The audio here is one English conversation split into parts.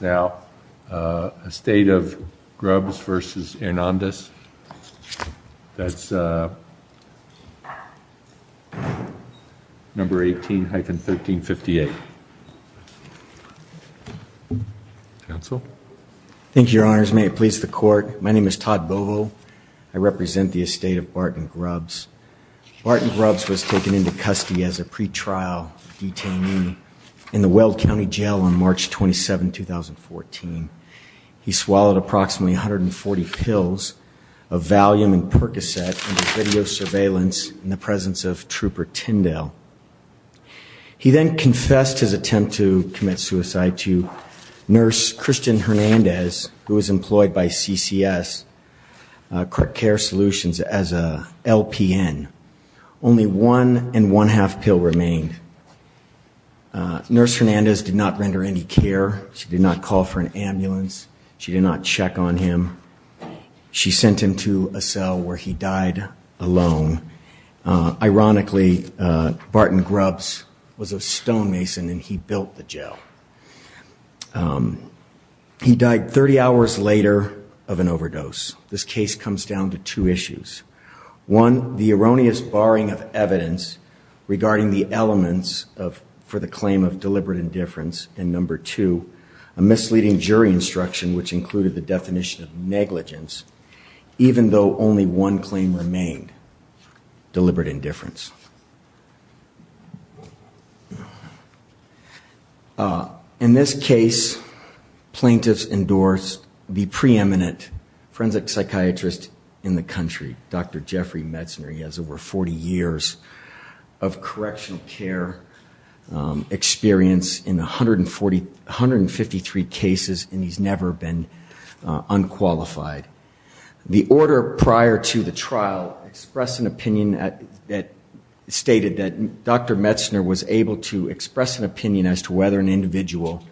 now. Estate of Grubbs v. Hernandez. That's number 18-1358. Thank you, Your Honors. May it please the court. My name is Todd Bovo. I represent the estate of Barton Grubbs. Barton Grubbs was taken into custody as a He swallowed approximately 140 pills of Valium and Percocet under video surveillance in the presence of Trooper Tyndale. He then confessed his attempt to commit suicide to nurse Christian Hernandez, who was employed by CCS Care Solutions as a LPN. Only one and one-half pill remained. Nurse Hernandez did not render any care. She did not call for an ambulance. She did not check on him. She sent him to a cell where he died alone. Ironically, Barton Grubbs was a stonemason and he built the jail. He died 30 hours later of an overdose. This case comes down to two issues. One, the erroneous borrowing of evidence regarding the elements for the claim of deliberate indifference. And number two, a misleading jury instruction which included the definition of negligence, even though only one claim remained, deliberate indifference. In this case, plaintiffs endorsed the preeminent forensic psychiatrist in the country, Dr. Jeffrey Metzner. He has over 40 years of correctional care experience in 153 cases and he's never been unqualified. The order prior to the trial expressed an opinion that Barton Grubbs did not stated that Dr. Metzner was able to express an opinion as to whether an individual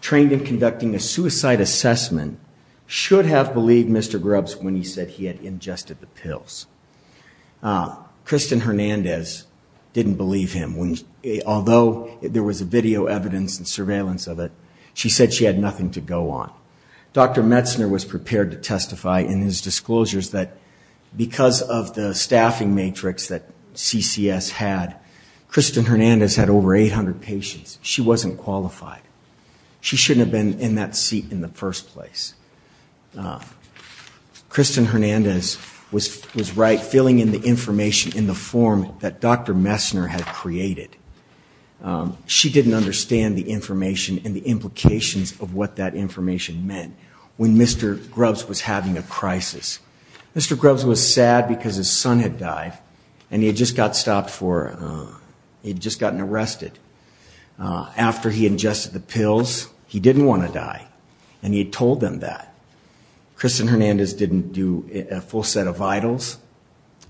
trained in conducting a suicide assessment should have believed Mr. Grubbs when he said he had ingested the pills. Kristen Hernandez didn't believe him. Although there was video evidence and surveillance of it, she said she had nothing to go on. Dr. Metzner was prepared to testify in his disclosures that because of the staffing matrix that CCS had, Kristen Hernandez had over 800 patients. She wasn't qualified. She shouldn't have been in that seat in the first place. Kristen Hernandez was right, filling in the information in the form that Dr. Metzner had created. She didn't understand the information and the implications of what that information meant when Mr. Grubbs was having a crisis. Mr. Grubbs was sad because his son had died and he had just gotten arrested after he ingested the pills. He didn't want to die and he told them that. Kristen Hernandez didn't do a full set of vitals.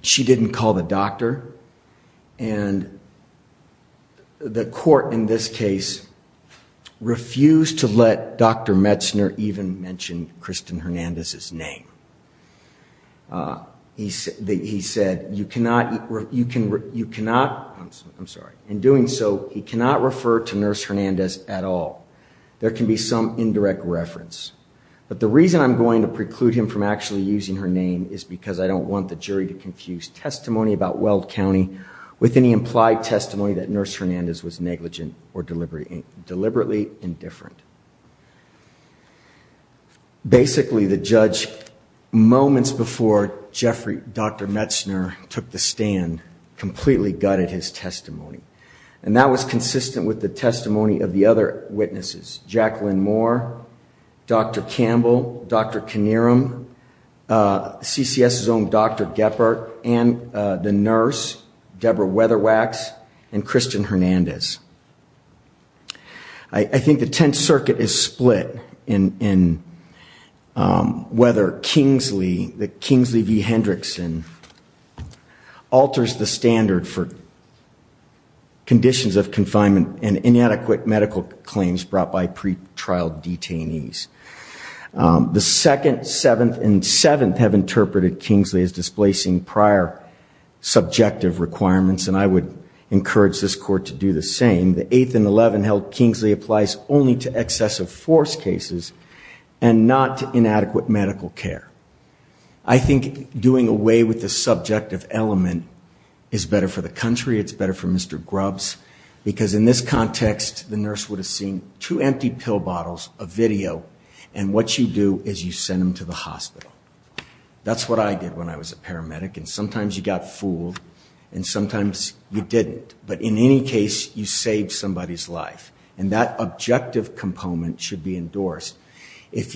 She didn't call the doctor and the court in this case refused to let Dr. Metzner even mention Kristen Hernandez's name. He said, you cannot, you cannot, I'm sorry, in doing so he cannot refer to Nurse Hernandez at all. There can be some indirect reference, but the reason I'm going to preclude him from actually using her name is because I don't want the jury to confuse testimony about Weld County with any implied testimony that Nurse Hernandez was negligent or deliberately indifferent. Basically, the judge moments before Dr. Metzner took the stand completely gutted his testimony and that was consistent with the testimony of the other witnesses, Jacqueline Moore, Dr. Campbell, Dr. Kinnearum, CCS's own Dr. Geppert, and the nurse, Deborah Weatherwax, and Kristen Hernandez. I think the Tenth Circuit is split in whether Kingsley, the Kingsley v. Hendrickson, alters the standard for conditions of confinement and inadequate medical claims brought by pretrial detainees. The Second, Seventh, and Seventh have interpreted Kingsley as displacing prior subjective requirements, and I would encourage this court to do the same. The Eighth and Eleven held Kingsley applies only to excessive force cases and not to inadequate medical care. I think doing away with the subjective element is better for the country, it's better for Mr. Grubbs, because in this context the nurse would have seen two empty pill bottles, a video, and what you do is you send them to the hospital. That's what I did when I was a paramedic and sometimes you got fooled and sometimes you didn't, but in any case you saved somebody's life and that objective component should be endorsed. If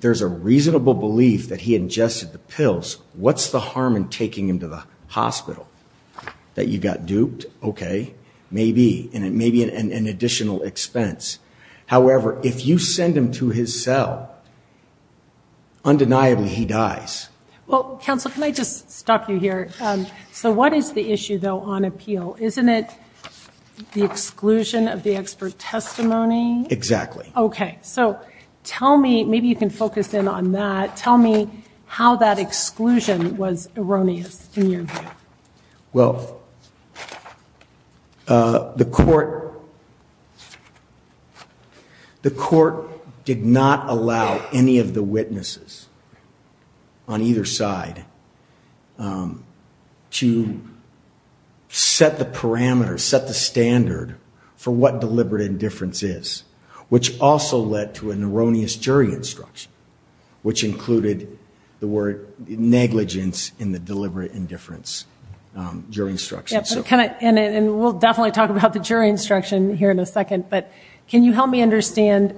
there's a reasonable belief that he ingested the pills, what's the harm in taking him to the hospital? That you got duped? Okay, maybe, and it may be an additional expense. However, if you send him to his cell, undeniably he dies. Well, counsel, can I just stop you here? So what is the issue though on appeal? Isn't it the exclusion of the expert testimony? Exactly. Okay, so tell me, maybe you can focus in on that, tell me how that exclusion was erroneous in your view. Well, the court did not allow any of the witnesses on either side to set the parameters, set the standard for what deliberate indifference is, which also led to an erroneous jury instruction, which included the word negligence in the deliberate indifference jury instruction. And we'll definitely talk about the jury instruction here in a second, but can you help me understand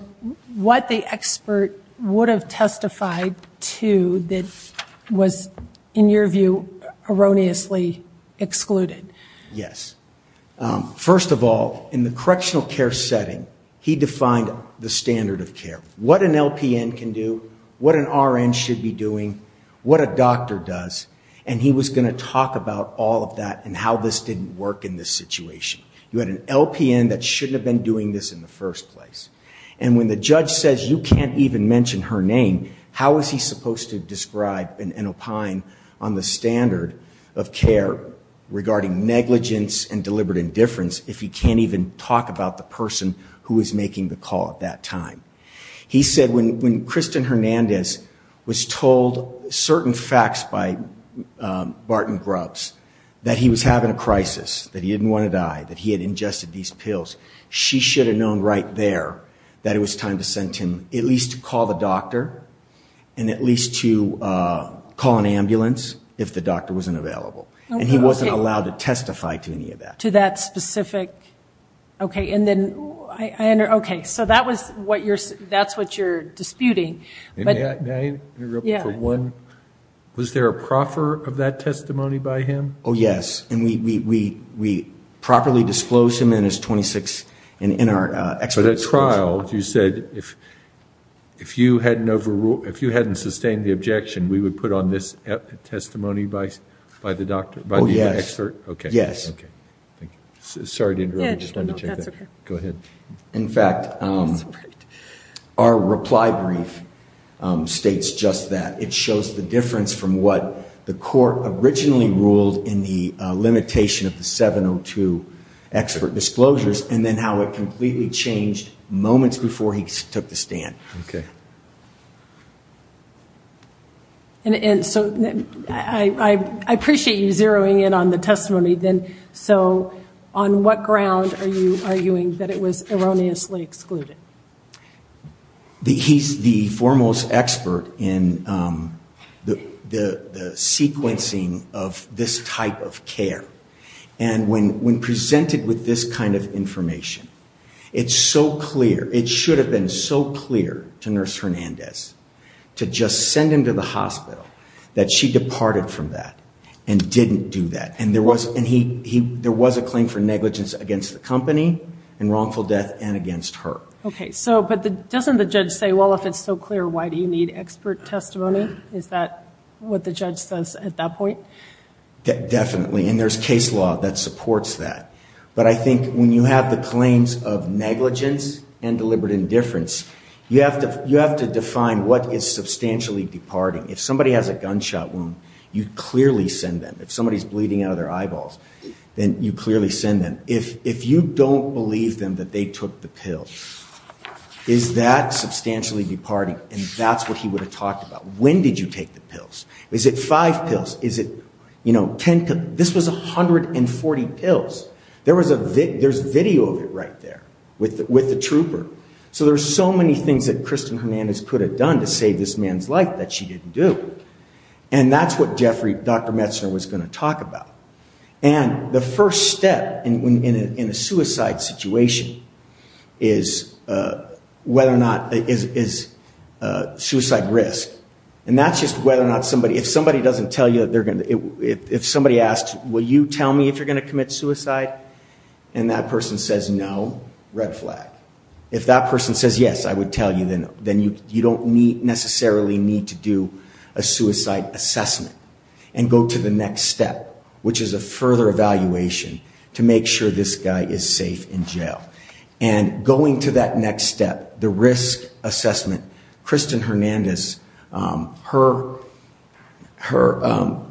what the expert would have testified to that was, in your view, erroneously excluded? Yes. First of all, in the correctional care setting, he defined the standard of care. What an LPN can do, what an RN should be doing, what a doctor does, and he was going to talk about all of that and how this didn't work in this situation. You had an LPN that shouldn't have been doing this in the first place. And when the judge says you can't even mention her name, how is he supposed to describe and opine on the standard of care regarding negligence and deliberate indifference if he can't even talk about the person who is making the call at that time? He said when Kristen Hernandez was told certain facts by Barton Grubbs that he was having a crisis, that he didn't want to die, that he had ingested these pills, she should have known right there that it was time to send him at least to call the doctor and at least to call an ambulance if the doctor wasn't available. And he wasn't allowed to testify to any of that. To that specific... Okay, so that's what you're disputing. Was there a proffer of that testimony by him? Oh, yes. And we properly disclosed him in his 26, in our expert... For that trial, you said if you hadn't sustained the objection, we would put on this testimony by the doctor, by the expert? Oh, yes. Okay. Yes. Okay. Thank you. Sorry to interrupt. I just wanted to check that. Go ahead. In fact, our reply brief states just that. It shows the difference from what the court originally ruled in the limitation of the 702 expert disclosures and then how it completely changed moments before he took the stand. Okay. And so I appreciate you zeroing in on the testimony then. So on what ground are you arguing that it was erroneously excluded? He's the foremost expert in the sequencing of this type of care. And when presented with this kind of information, it's so clear. It should have been so clear to Nurse Hernandez to just send him to the hospital that she departed from that and didn't do that. And there was a claim for negligence against the company and wrongful death and against her. Okay. So, but doesn't the judge say, well, if it's so clear, why do you need expert testimony? Is that what the judge says at that point? Definitely. And there's case law that supports that. But I think when you have the claims of negligence and deliberate indifference, you have to define what is substantially departing. If somebody has a gunshot wound, you clearly send them. If somebody's bleeding out of their eyeballs, then you clearly send them. If you don't believe them that they took the pill, is that substantially departing? And that's what he would have talked about. When did you take the pills? Is it five pills? Is it, you know, 10? This was 140 pills. There was a video of it right there with the trooper. So there's so many things that Kristen Hernandez could have done to save this man's life that she didn't do. And that's what Jeffrey, Dr. Metzner was going to talk about. And the first step in a suicide situation is whether or not, is suicide risk. And that's just whether or not somebody, if somebody doesn't tell you that they're going to, if somebody asks, will you tell me if you're going to commit suicide? And that person says, no, red flag. If that person says, yes, I would tell you, then you don't necessarily need to do a suicide assessment and go to the next step, which is a further evaluation to make sure this guy is safe in jail. And going to that next step, the risk assessment, Kristen Hernandez, her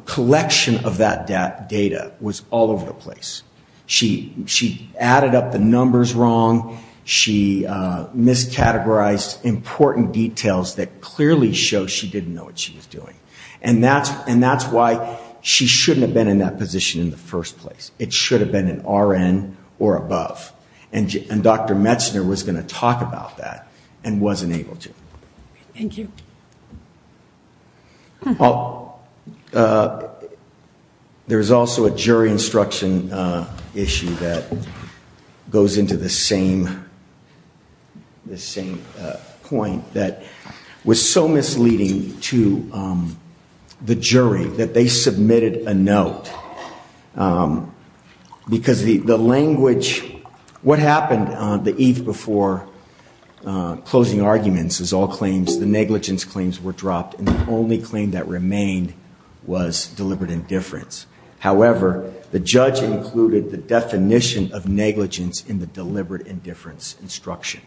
collection of that data was all over the place. She added up the numbers wrong. She miscategorized important details that clearly show she didn't know what she was doing. And that's, and that's why she shouldn't have been in that position in the first place. It should have been an RN or above. And Dr. Metzner was going to talk about that and wasn't able to. Thank you. Well, there was also a jury instruction issue that goes into the same, the same point that was so misleading to the jury that they submitted a note because the language, what happened the eve before closing arguments is all claims, the negligence claims were dropped. And the only claim that remained was deliberate indifference. However, the judge included the definition of negligence in the deliberate indifference instruction.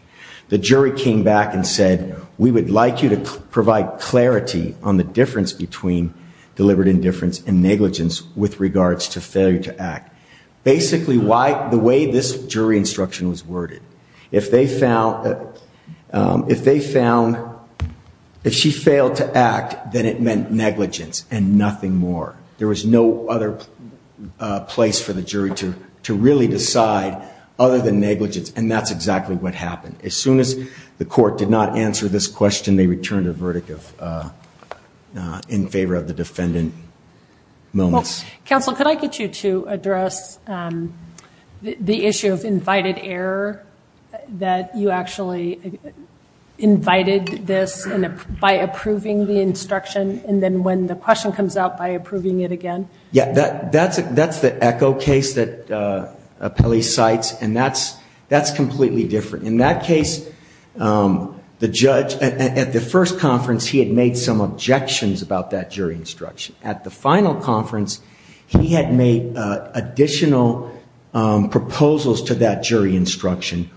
The jury came back and said, we would like you to provide clarity on the difference between deliberate indifference and negligence with regards to failure to act. Basically why the way this jury instruction was worded, if they found, if they found, if she failed to act, then it meant negligence and nothing more. There was no other place for the jury to, to really decide other than negligence. And that's exactly what happened. As soon as the court did not answer this question, they returned a verdict of, in favor of the defendant moments. Counsel, could I get you to address the issue of invited error that you actually invited this and by approving the instruction. And then when the question comes out by approving it again. Yeah, that that's, that's the echo case that Pele cites. And that's, that's completely different in that case. The judge at the first conference, he had made some objections about that jury instruction at the final conference, he had made additional proposals to that jury instruction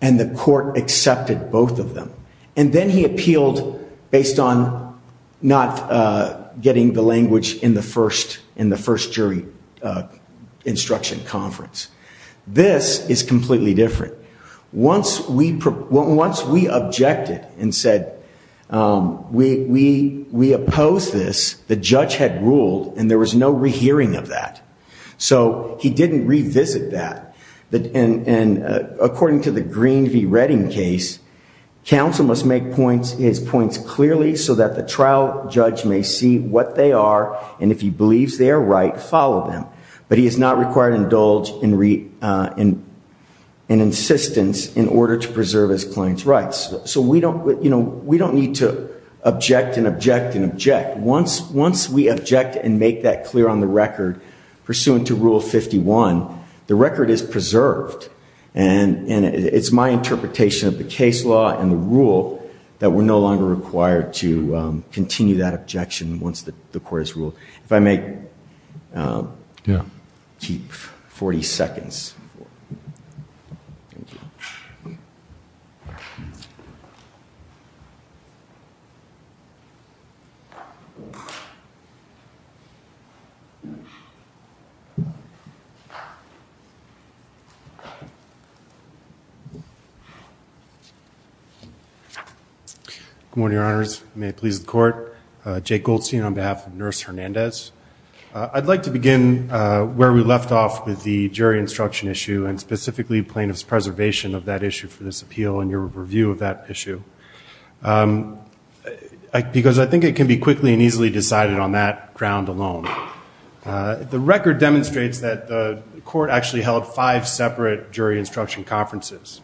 and the court accepted both of them. And then he appealed based on not getting the language in the first, in the first jury instruction conference. This is completely different. Once we, once we objected and said, we, we, we opposed this, the judge had ruled and there was no rehearing of that. So he didn't revisit that. But, and, and according to the Green v. Redding case, counsel must make points, his points clearly so that the trial judge may see what they are. And if he believes they are right, follow them. But he is not required to indulge in, in, in insistence in order to preserve his client's rights. So we don't, you know, we don't need to object and object and object. Once, once we object and make that clear on the record, pursuant to rule 51, the record is preserved. And, and it's my interpretation of the case law and the rule that we're no longer required to continue that objection once the court has ruled. If I may. Yeah. Keep 40 seconds. Good morning, your honors. May it please the court. Jake Goldstein on behalf of Nurse Hernandez. I'd like to begin where we left off with the jury instruction issue and specifically plaintiff's preservation of that issue for this appeal and your review of that issue. Because I think it can be quickly and easily decided on that ground alone. The record demonstrates that the court actually held five separate jury instruction conferences.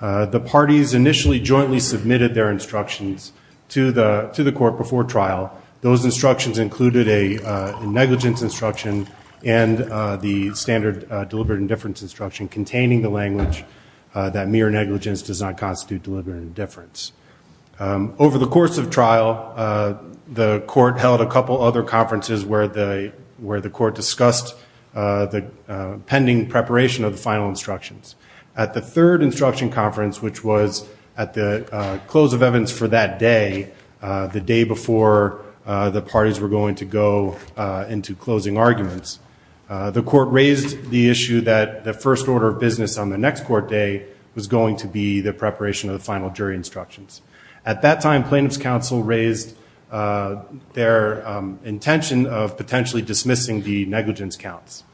The parties initially jointly submitted their instructions to the, to the court before trial. Those instructions included a negligence instruction and the standard deliberate indifference instruction containing the language that mere negligence does not constitute deliberate indifference. Over the course of trial, the court held a couple other conferences where the, where the court discussed the pending preparation of the final instructions. At the third instruction conference, which was at the close of evidence for that day, the day before the parties were going to go into closing arguments, the court raised the issue that the first order of business on the next court day was going to be the preparation of the final jury instructions. At that time, plaintiff's counsel raised their intention of potentially dismissing the negligence counts.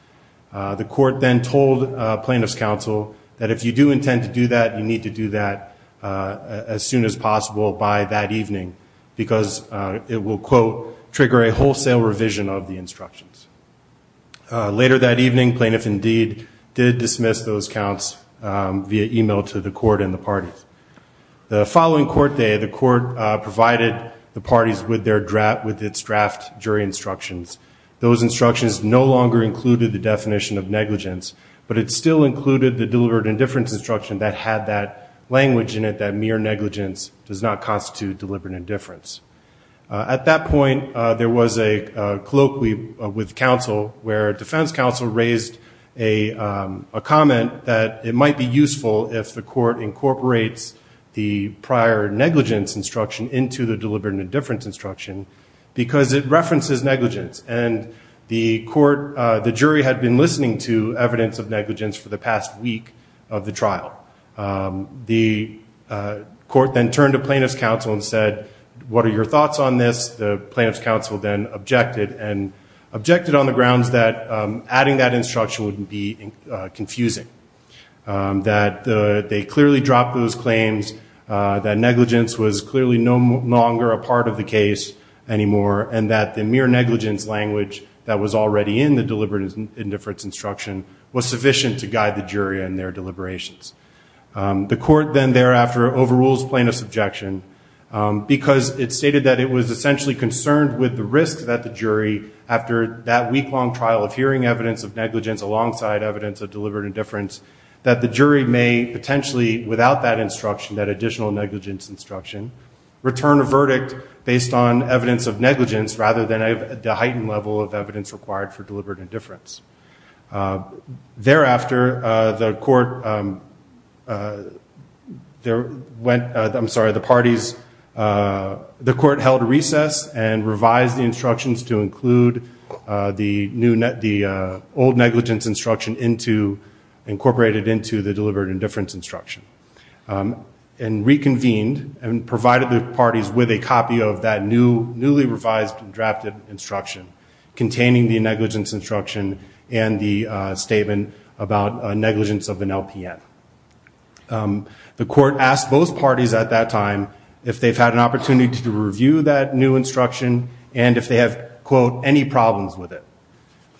The court then told plaintiff's counsel that if you do intend to do that, you need to do that as soon as possible by that evening because it will, quote, trigger a wholesale revision of the instructions. Later that evening, plaintiff indeed did dismiss those counts via email to the court and the parties. The following court day, the court provided the parties with their draft, with its draft jury instructions. Those instructions no longer included the definition of negligence, but it still included the deliberate indifference instruction that had that language in it that mere negligence does not constitute deliberate indifference. At that point, there was a colloquy with counsel where defense counsel raised a comment that it might be useful if the court incorporates the prior negligence instruction into the negligence. And the court, the jury had been listening to evidence of negligence for the past week of the trial. The court then turned to plaintiff's counsel and said, what are your thoughts on this? The plaintiff's counsel then objected and objected on the grounds that adding that instruction would be confusing. That they clearly dropped those claims, that negligence was clearly no longer a part of the case anymore, and that the mere negligence language that was already in the deliberate indifference instruction was sufficient to guide the jury in their deliberations. The court then thereafter overrules plaintiff's objection, because it stated that it was essentially concerned with the risk that the jury, after that week-long trial of hearing evidence of negligence alongside evidence of deliberate indifference, that the jury may potentially, without that instruction, that additional negligence instruction, return a verdict based on evidence of negligence rather than the heightened level of evidence required for deliberate indifference. Thereafter, the court held a recess and revised the instructions to include the old negligence instruction incorporated into the deliberate indifference instruction, and reconvened and a copy of that newly revised and drafted instruction containing the negligence instruction and the statement about negligence of an LPN. The court asked both parties at that time if they've had an opportunity to review that new instruction and if they have, quote, any problems with it.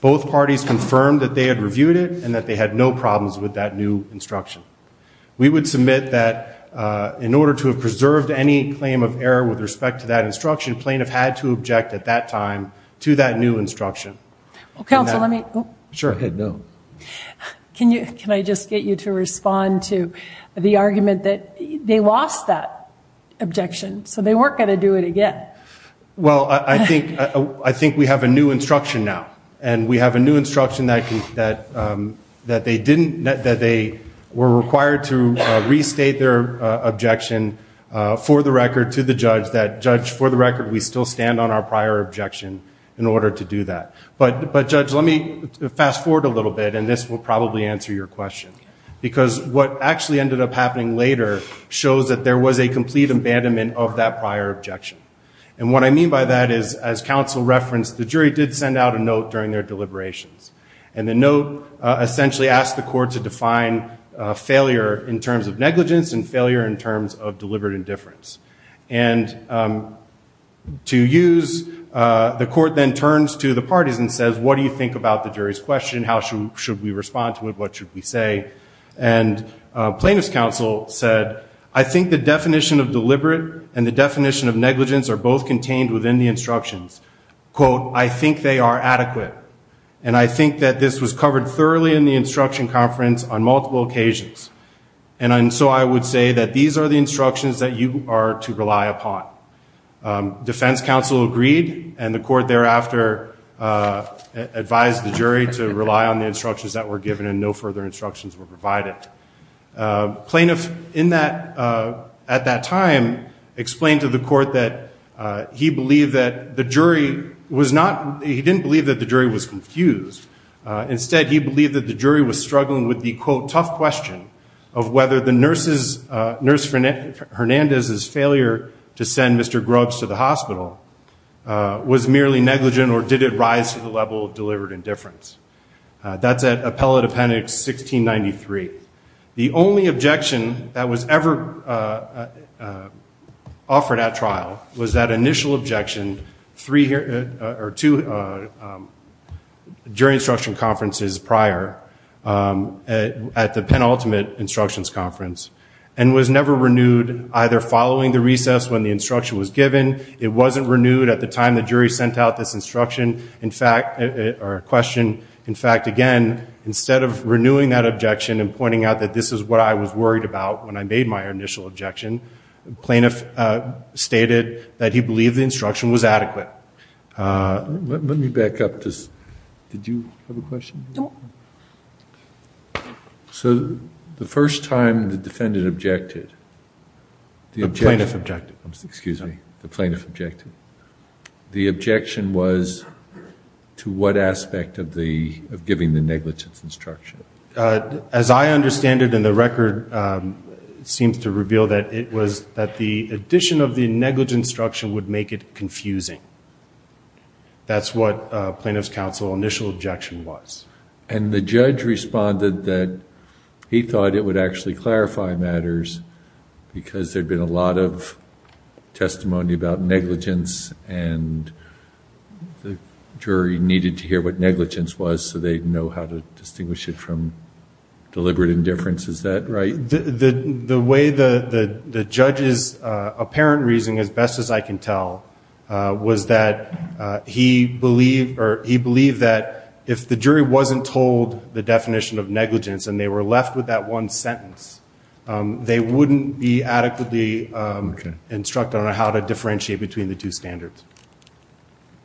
Both parties confirmed that they had reviewed it and that they had no problems with that new instruction. We would submit that in order to have preserved any claim of error with respect to that instruction, plaintiff had to object at that time to that new instruction. Well, counsel, let me... Sure. Can I just get you to respond to the argument that they lost that objection, so they weren't going to do it again? Well, I think we have a new instruction now, and we have a new instruction that they were required to restate their objection for the record to the judge, that judge, for the record, we still stand on our prior objection in order to do that. But judge, let me fast forward a little bit, and this will probably answer your question. Because what actually ended up happening later shows that there was a complete abandonment of that prior objection. And what I mean by that is, as counsel referenced, the jury did send out a note during their deliberations. And the note essentially asked the court to define failure in terms of negligence and failure in terms of deliberate indifference. And to use, the court then turns to the parties and says, what do you think about the jury's question? How should we respond to it? What should we say? And plaintiff's counsel said, I think the definition of deliberate and the definition of negligence are both contained within the instructions. Quote, I think they are adequate. And I think that this was covered thoroughly in the instruction conference on multiple occasions. And so I would say that these are the instructions that you are to rely upon. Defense counsel agreed. And the court thereafter advised the jury to rely on the instructions that were given and no further instructions were provided. Plaintiff, at that time, explained to the court that he didn't believe that the jury was confused. Instead, he believed that the jury was struggling with the, quote, tough question of whether the nurse Hernandez's failure to send Mr. Grubbs to the hospital was merely negligent or did it rise to the level of deliberate indifference. That's at appellate appendix 1693. The only objection that was ever offered at trial was that initial objection two jury instruction conferences prior at the penultimate instructions conference and was never renewed either following the recess when the instruction was given. It wasn't renewed at the time the jury sent out this instruction or question. In fact, again, instead of renewing that objection and pointing out that this is what I was worried about when I made my initial objection, plaintiff stated that he believed the instruction was adequate. Let me back up. Did you have a question? So the first time the defendant objected, the plaintiff objected, excuse me, the plaintiff objected to what aspect of giving the negligence instruction? As I understand it, and the record seems to reveal that it was that the addition of the negligence instruction would make it confusing. That's what plaintiff's counsel initial objection was. And the judge responded that he thought it would actually clarify matters because there'd been a lot of testimony about negligence and the jury needed to hear what negligence was so they'd know how to distinguish it from deliberate indifference. Is that right? The way the judge's apparent reasoning, as best as I can tell, was that he believed that if the jury wasn't told the definition of negligence and they were left with that one instruction on how to differentiate between the two standards.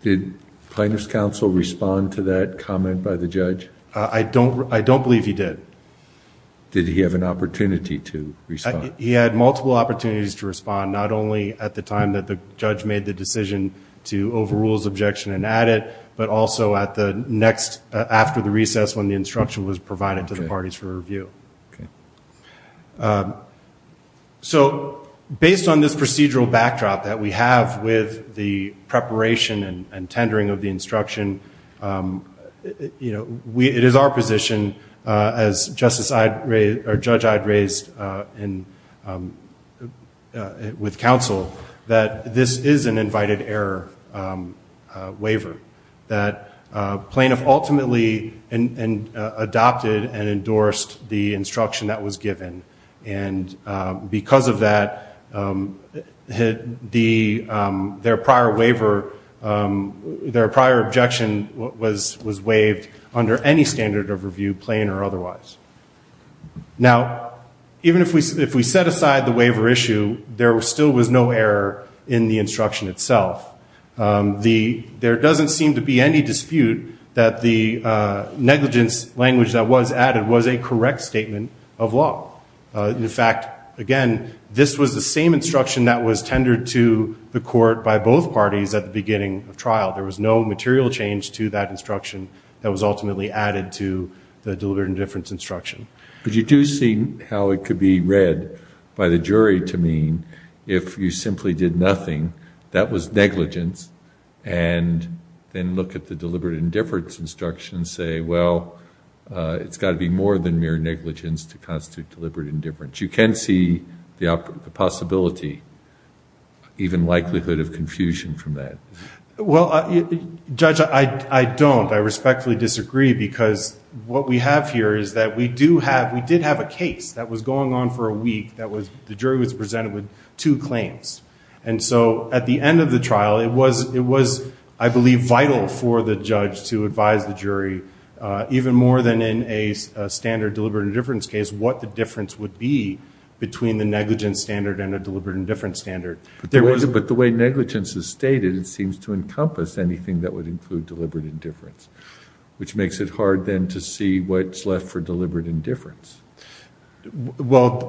Did plaintiff's counsel respond to that comment by the judge? I don't believe he did. Did he have an opportunity to respond? He had multiple opportunities to respond, not only at the time that the judge made the decision to overrule his objection and add it, but also at the next, after the recess when the instruction was provided to the parties for review. Okay. So based on this procedural backdrop that we have with the preparation and tendering of the instruction, it is our position as judge I'd raised with counsel that this is an invited error waiver. That plaintiff ultimately adopted and endorsed the instruction that was given and because of that, their prior objection was waived under any standard of review, plain or otherwise. Now, even if we set aside the waiver issue, there still was no error in the instruction itself. The, there doesn't seem to be any dispute that the negligence language that was added was a correct statement of law. In fact, again, this was the same instruction that was tendered to the court by both parties at the beginning of trial. There was no material change to that instruction that was ultimately added to the deliberate indifference instruction. But you do see how it could be read by the jury to mean if you simply did nothing, that was negligence, and then look at the deliberate indifference instruction and say, well, it's got to be more than mere negligence to constitute deliberate indifference. You can see the possibility, even likelihood of confusion from that. Well, Judge, I don't. I respectfully disagree because what we have here is that we do have, we did have a case that was going on for a week that was, the jury was presented with two claims. And so at the end of the trial, it was, it was, I believe, vital for the judge to advise the jury even more than in a standard deliberate indifference case, what the difference would be between the negligence standard and a deliberate indifference standard. There was, but the way negligence is stated, it seems to encompass anything that would include deliberate indifference, which makes it hard then to see what's left for deliberate indifference. Well,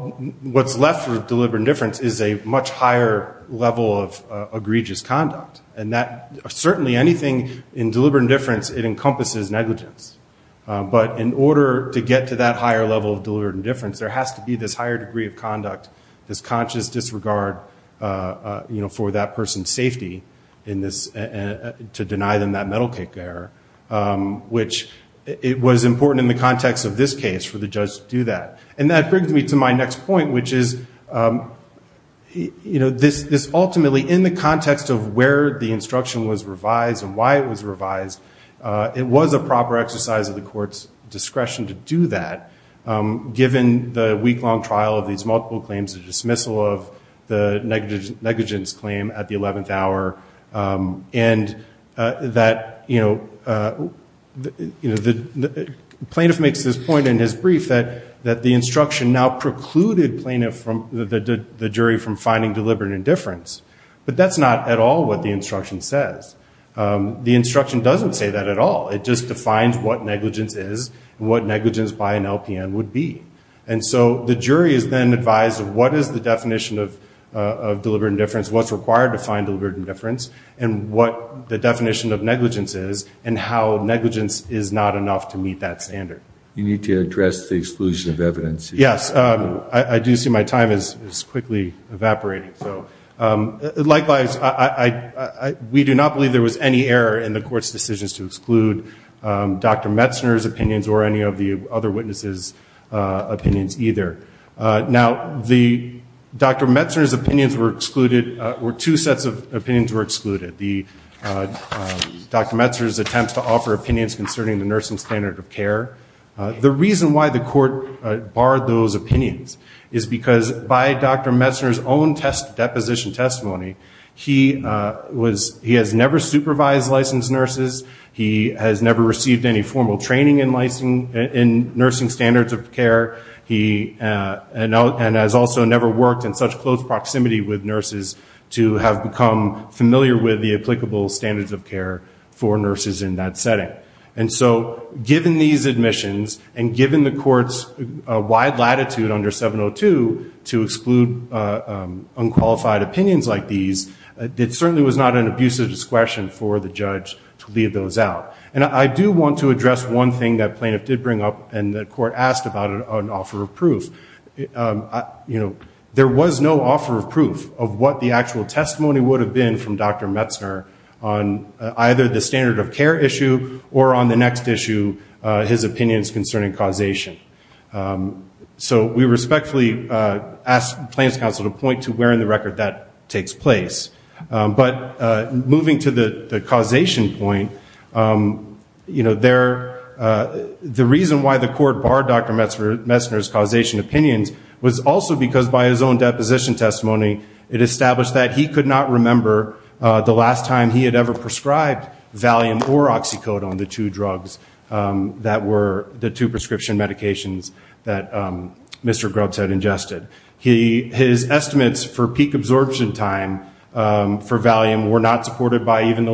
what's left for deliberate indifference is a much higher level of egregious conduct. And that certainly anything in deliberate indifference, it encompasses negligence. But in order to get to that higher level of deliberate indifference, there has to be this higher degree of conduct, this conscious disregard, you know, for that person's safety in this, to deny them that metal kick error, which it was important in the context of this case for the judge to do that. And that brings me to my next point, which is, you know, this, this ultimately in the context of where the instruction was revised and why it was revised, it was a proper exercise of the court's discretion to do that. Given the week-long trial of these multiple claims, the dismissal of the negligence claim at the 11th hour, and that, you know, the plaintiff makes this point in his brief that, that the instruction now precluded the jury from finding deliberate indifference. But that's not at all what the instruction says. The instruction doesn't say that at all. It just defines what negligence is and what negligence by an LPN would be. And so the jury is then advised of what is the definition of deliberate indifference, what's required to find deliberate indifference, and what the definition of negligence is, and how negligence is not enough to meet that standard. You need to address the exclusion of evidence. Yes, I do see my time is quickly evaporating. So likewise, I, we do not believe there was any error in the court's decisions to exclude Dr. Metzner's opinions or any of the other witnesses' opinions either. Now, the, Dr. Metzner's opinions were excluded, or two sets of opinions were excluded. The, Dr. Metzner's attempts to offer opinions concerning the nursing standard of care. The reason why the court barred those opinions is because by Dr. Metzner's own test, deposition testimony, he was, he has never supervised licensed nurses. He has never received any formal training in licensing, in nursing standards of care. He, and has also never worked in such close proximity with nurses to have become familiar with the applicable standards of care for nurses in that setting. And so given these admissions, and given the court's wide latitude under 702 to exclude unqualified opinions like these, it certainly was not an abusive discretion for the judge to leave those out. And I do want to address one thing that plaintiff did bring up, and the court asked about it on offer of proof. You know, there was no offer of proof of what the actual testimony would have been from Dr. Metzner on either the standard of care issue or on the next issue, his opinions concerning causation. So we respectfully ask Plaintiff's counsel to point to where in the record that takes place. But moving to the causation point, you know, there, the reason why the court barred Dr. Metzner's causation opinions was also because by his own deposition testimony, it established that he could not remember the last time he had ever prescribed Valium or Oxycodone, the two drugs that were the two prescription medications that Mr. Grubbs had ingested. His estimates for peak absorption time for Valium were not supported by even the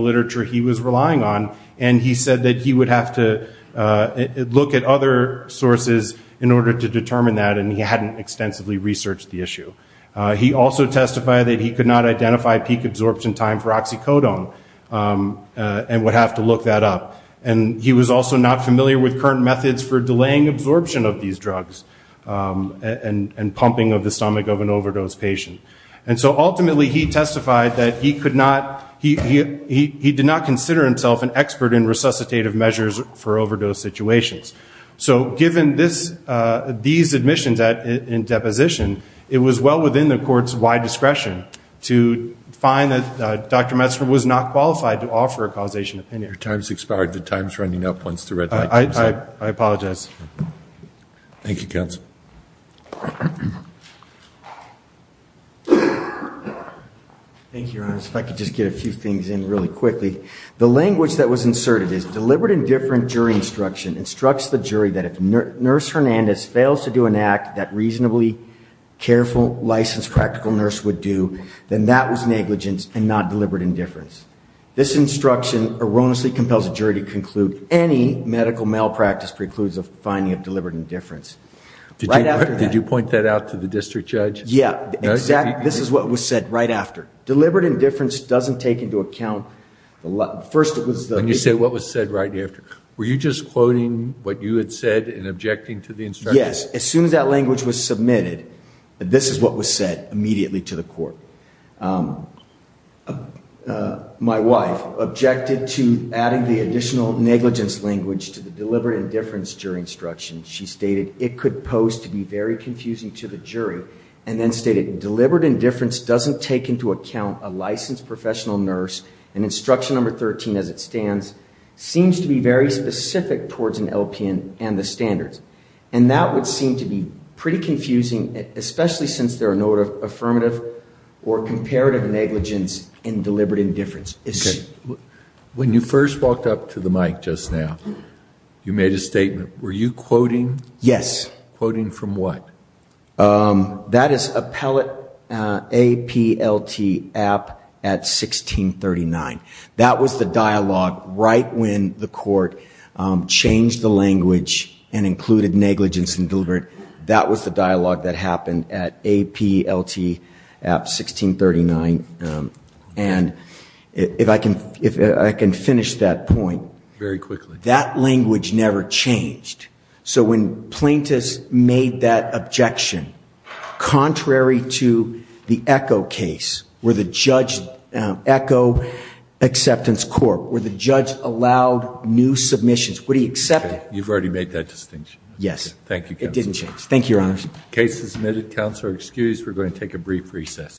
look at other sources in order to determine that, and he hadn't extensively researched the issue. He also testified that he could not identify peak absorption time for Oxycodone and would have to look that up. And he was also not familiar with current methods for delaying absorption of these drugs and pumping of the stomach of an overdose patient. And so ultimately, he testified that he could not, he did not consider himself an expert in resuscitative measures for overdose situations. So given this, these admissions in deposition, it was well within the court's wide discretion to find that Dr. Metzner was not qualified to offer a causation opinion. Your time's expired. The time's running up once the red light comes on. I apologize. Thank you, counsel. Thank you, Your Honor. If I could just get a few things in really quickly. The language that was inserted is, deliberate indifferent jury instruction instructs the jury that if Nurse Hernandez fails to do an act that reasonably careful licensed practical nurse would do, then that was negligence and not deliberate indifference. This instruction erroneously compels a jury to conclude any medical malpractice precludes the finding of deliberate indifference. Did you point that out to the district judge? Yeah, exactly. This is what was said right after. Deliberate indifference doesn't take into account, first it was... When you say what was said right after, were you just quoting what you had said and objecting to the instruction? Yes. As soon as that language was submitted, this is what was said immediately to the court. My wife objected to adding the additional negligence language to the deliberate indifference jury instruction. She stated, it could pose to be very confusing to the jury. And then stated, deliberate indifference doesn't take into account a licensed professional nurse and instruction number 13 as it stands, seems to be very specific towards an LPN and the standards. And that would seem to be pretty confusing, especially since there are no affirmative or comparative negligence in deliberate indifference. When you first walked up to the mic just now, you made a statement. Were you quoting? Yes. Quoting from what? That is appellate APLT app at 1639. That was the dialogue right when the court changed the language and included negligence and deliberate. That was the dialogue that happened at APLT app 1639. And if I can finish that point. Very quickly. That language never changed. So when plaintiffs made that objection, contrary to the echo case, where the judge echo acceptance court, where the judge allowed new submissions, would he accept it? You've already made that distinction. Yes. Thank you. It didn't change. Thank you, Your Honor. Case is admitted. Counselor excused. We're going to take a brief recess.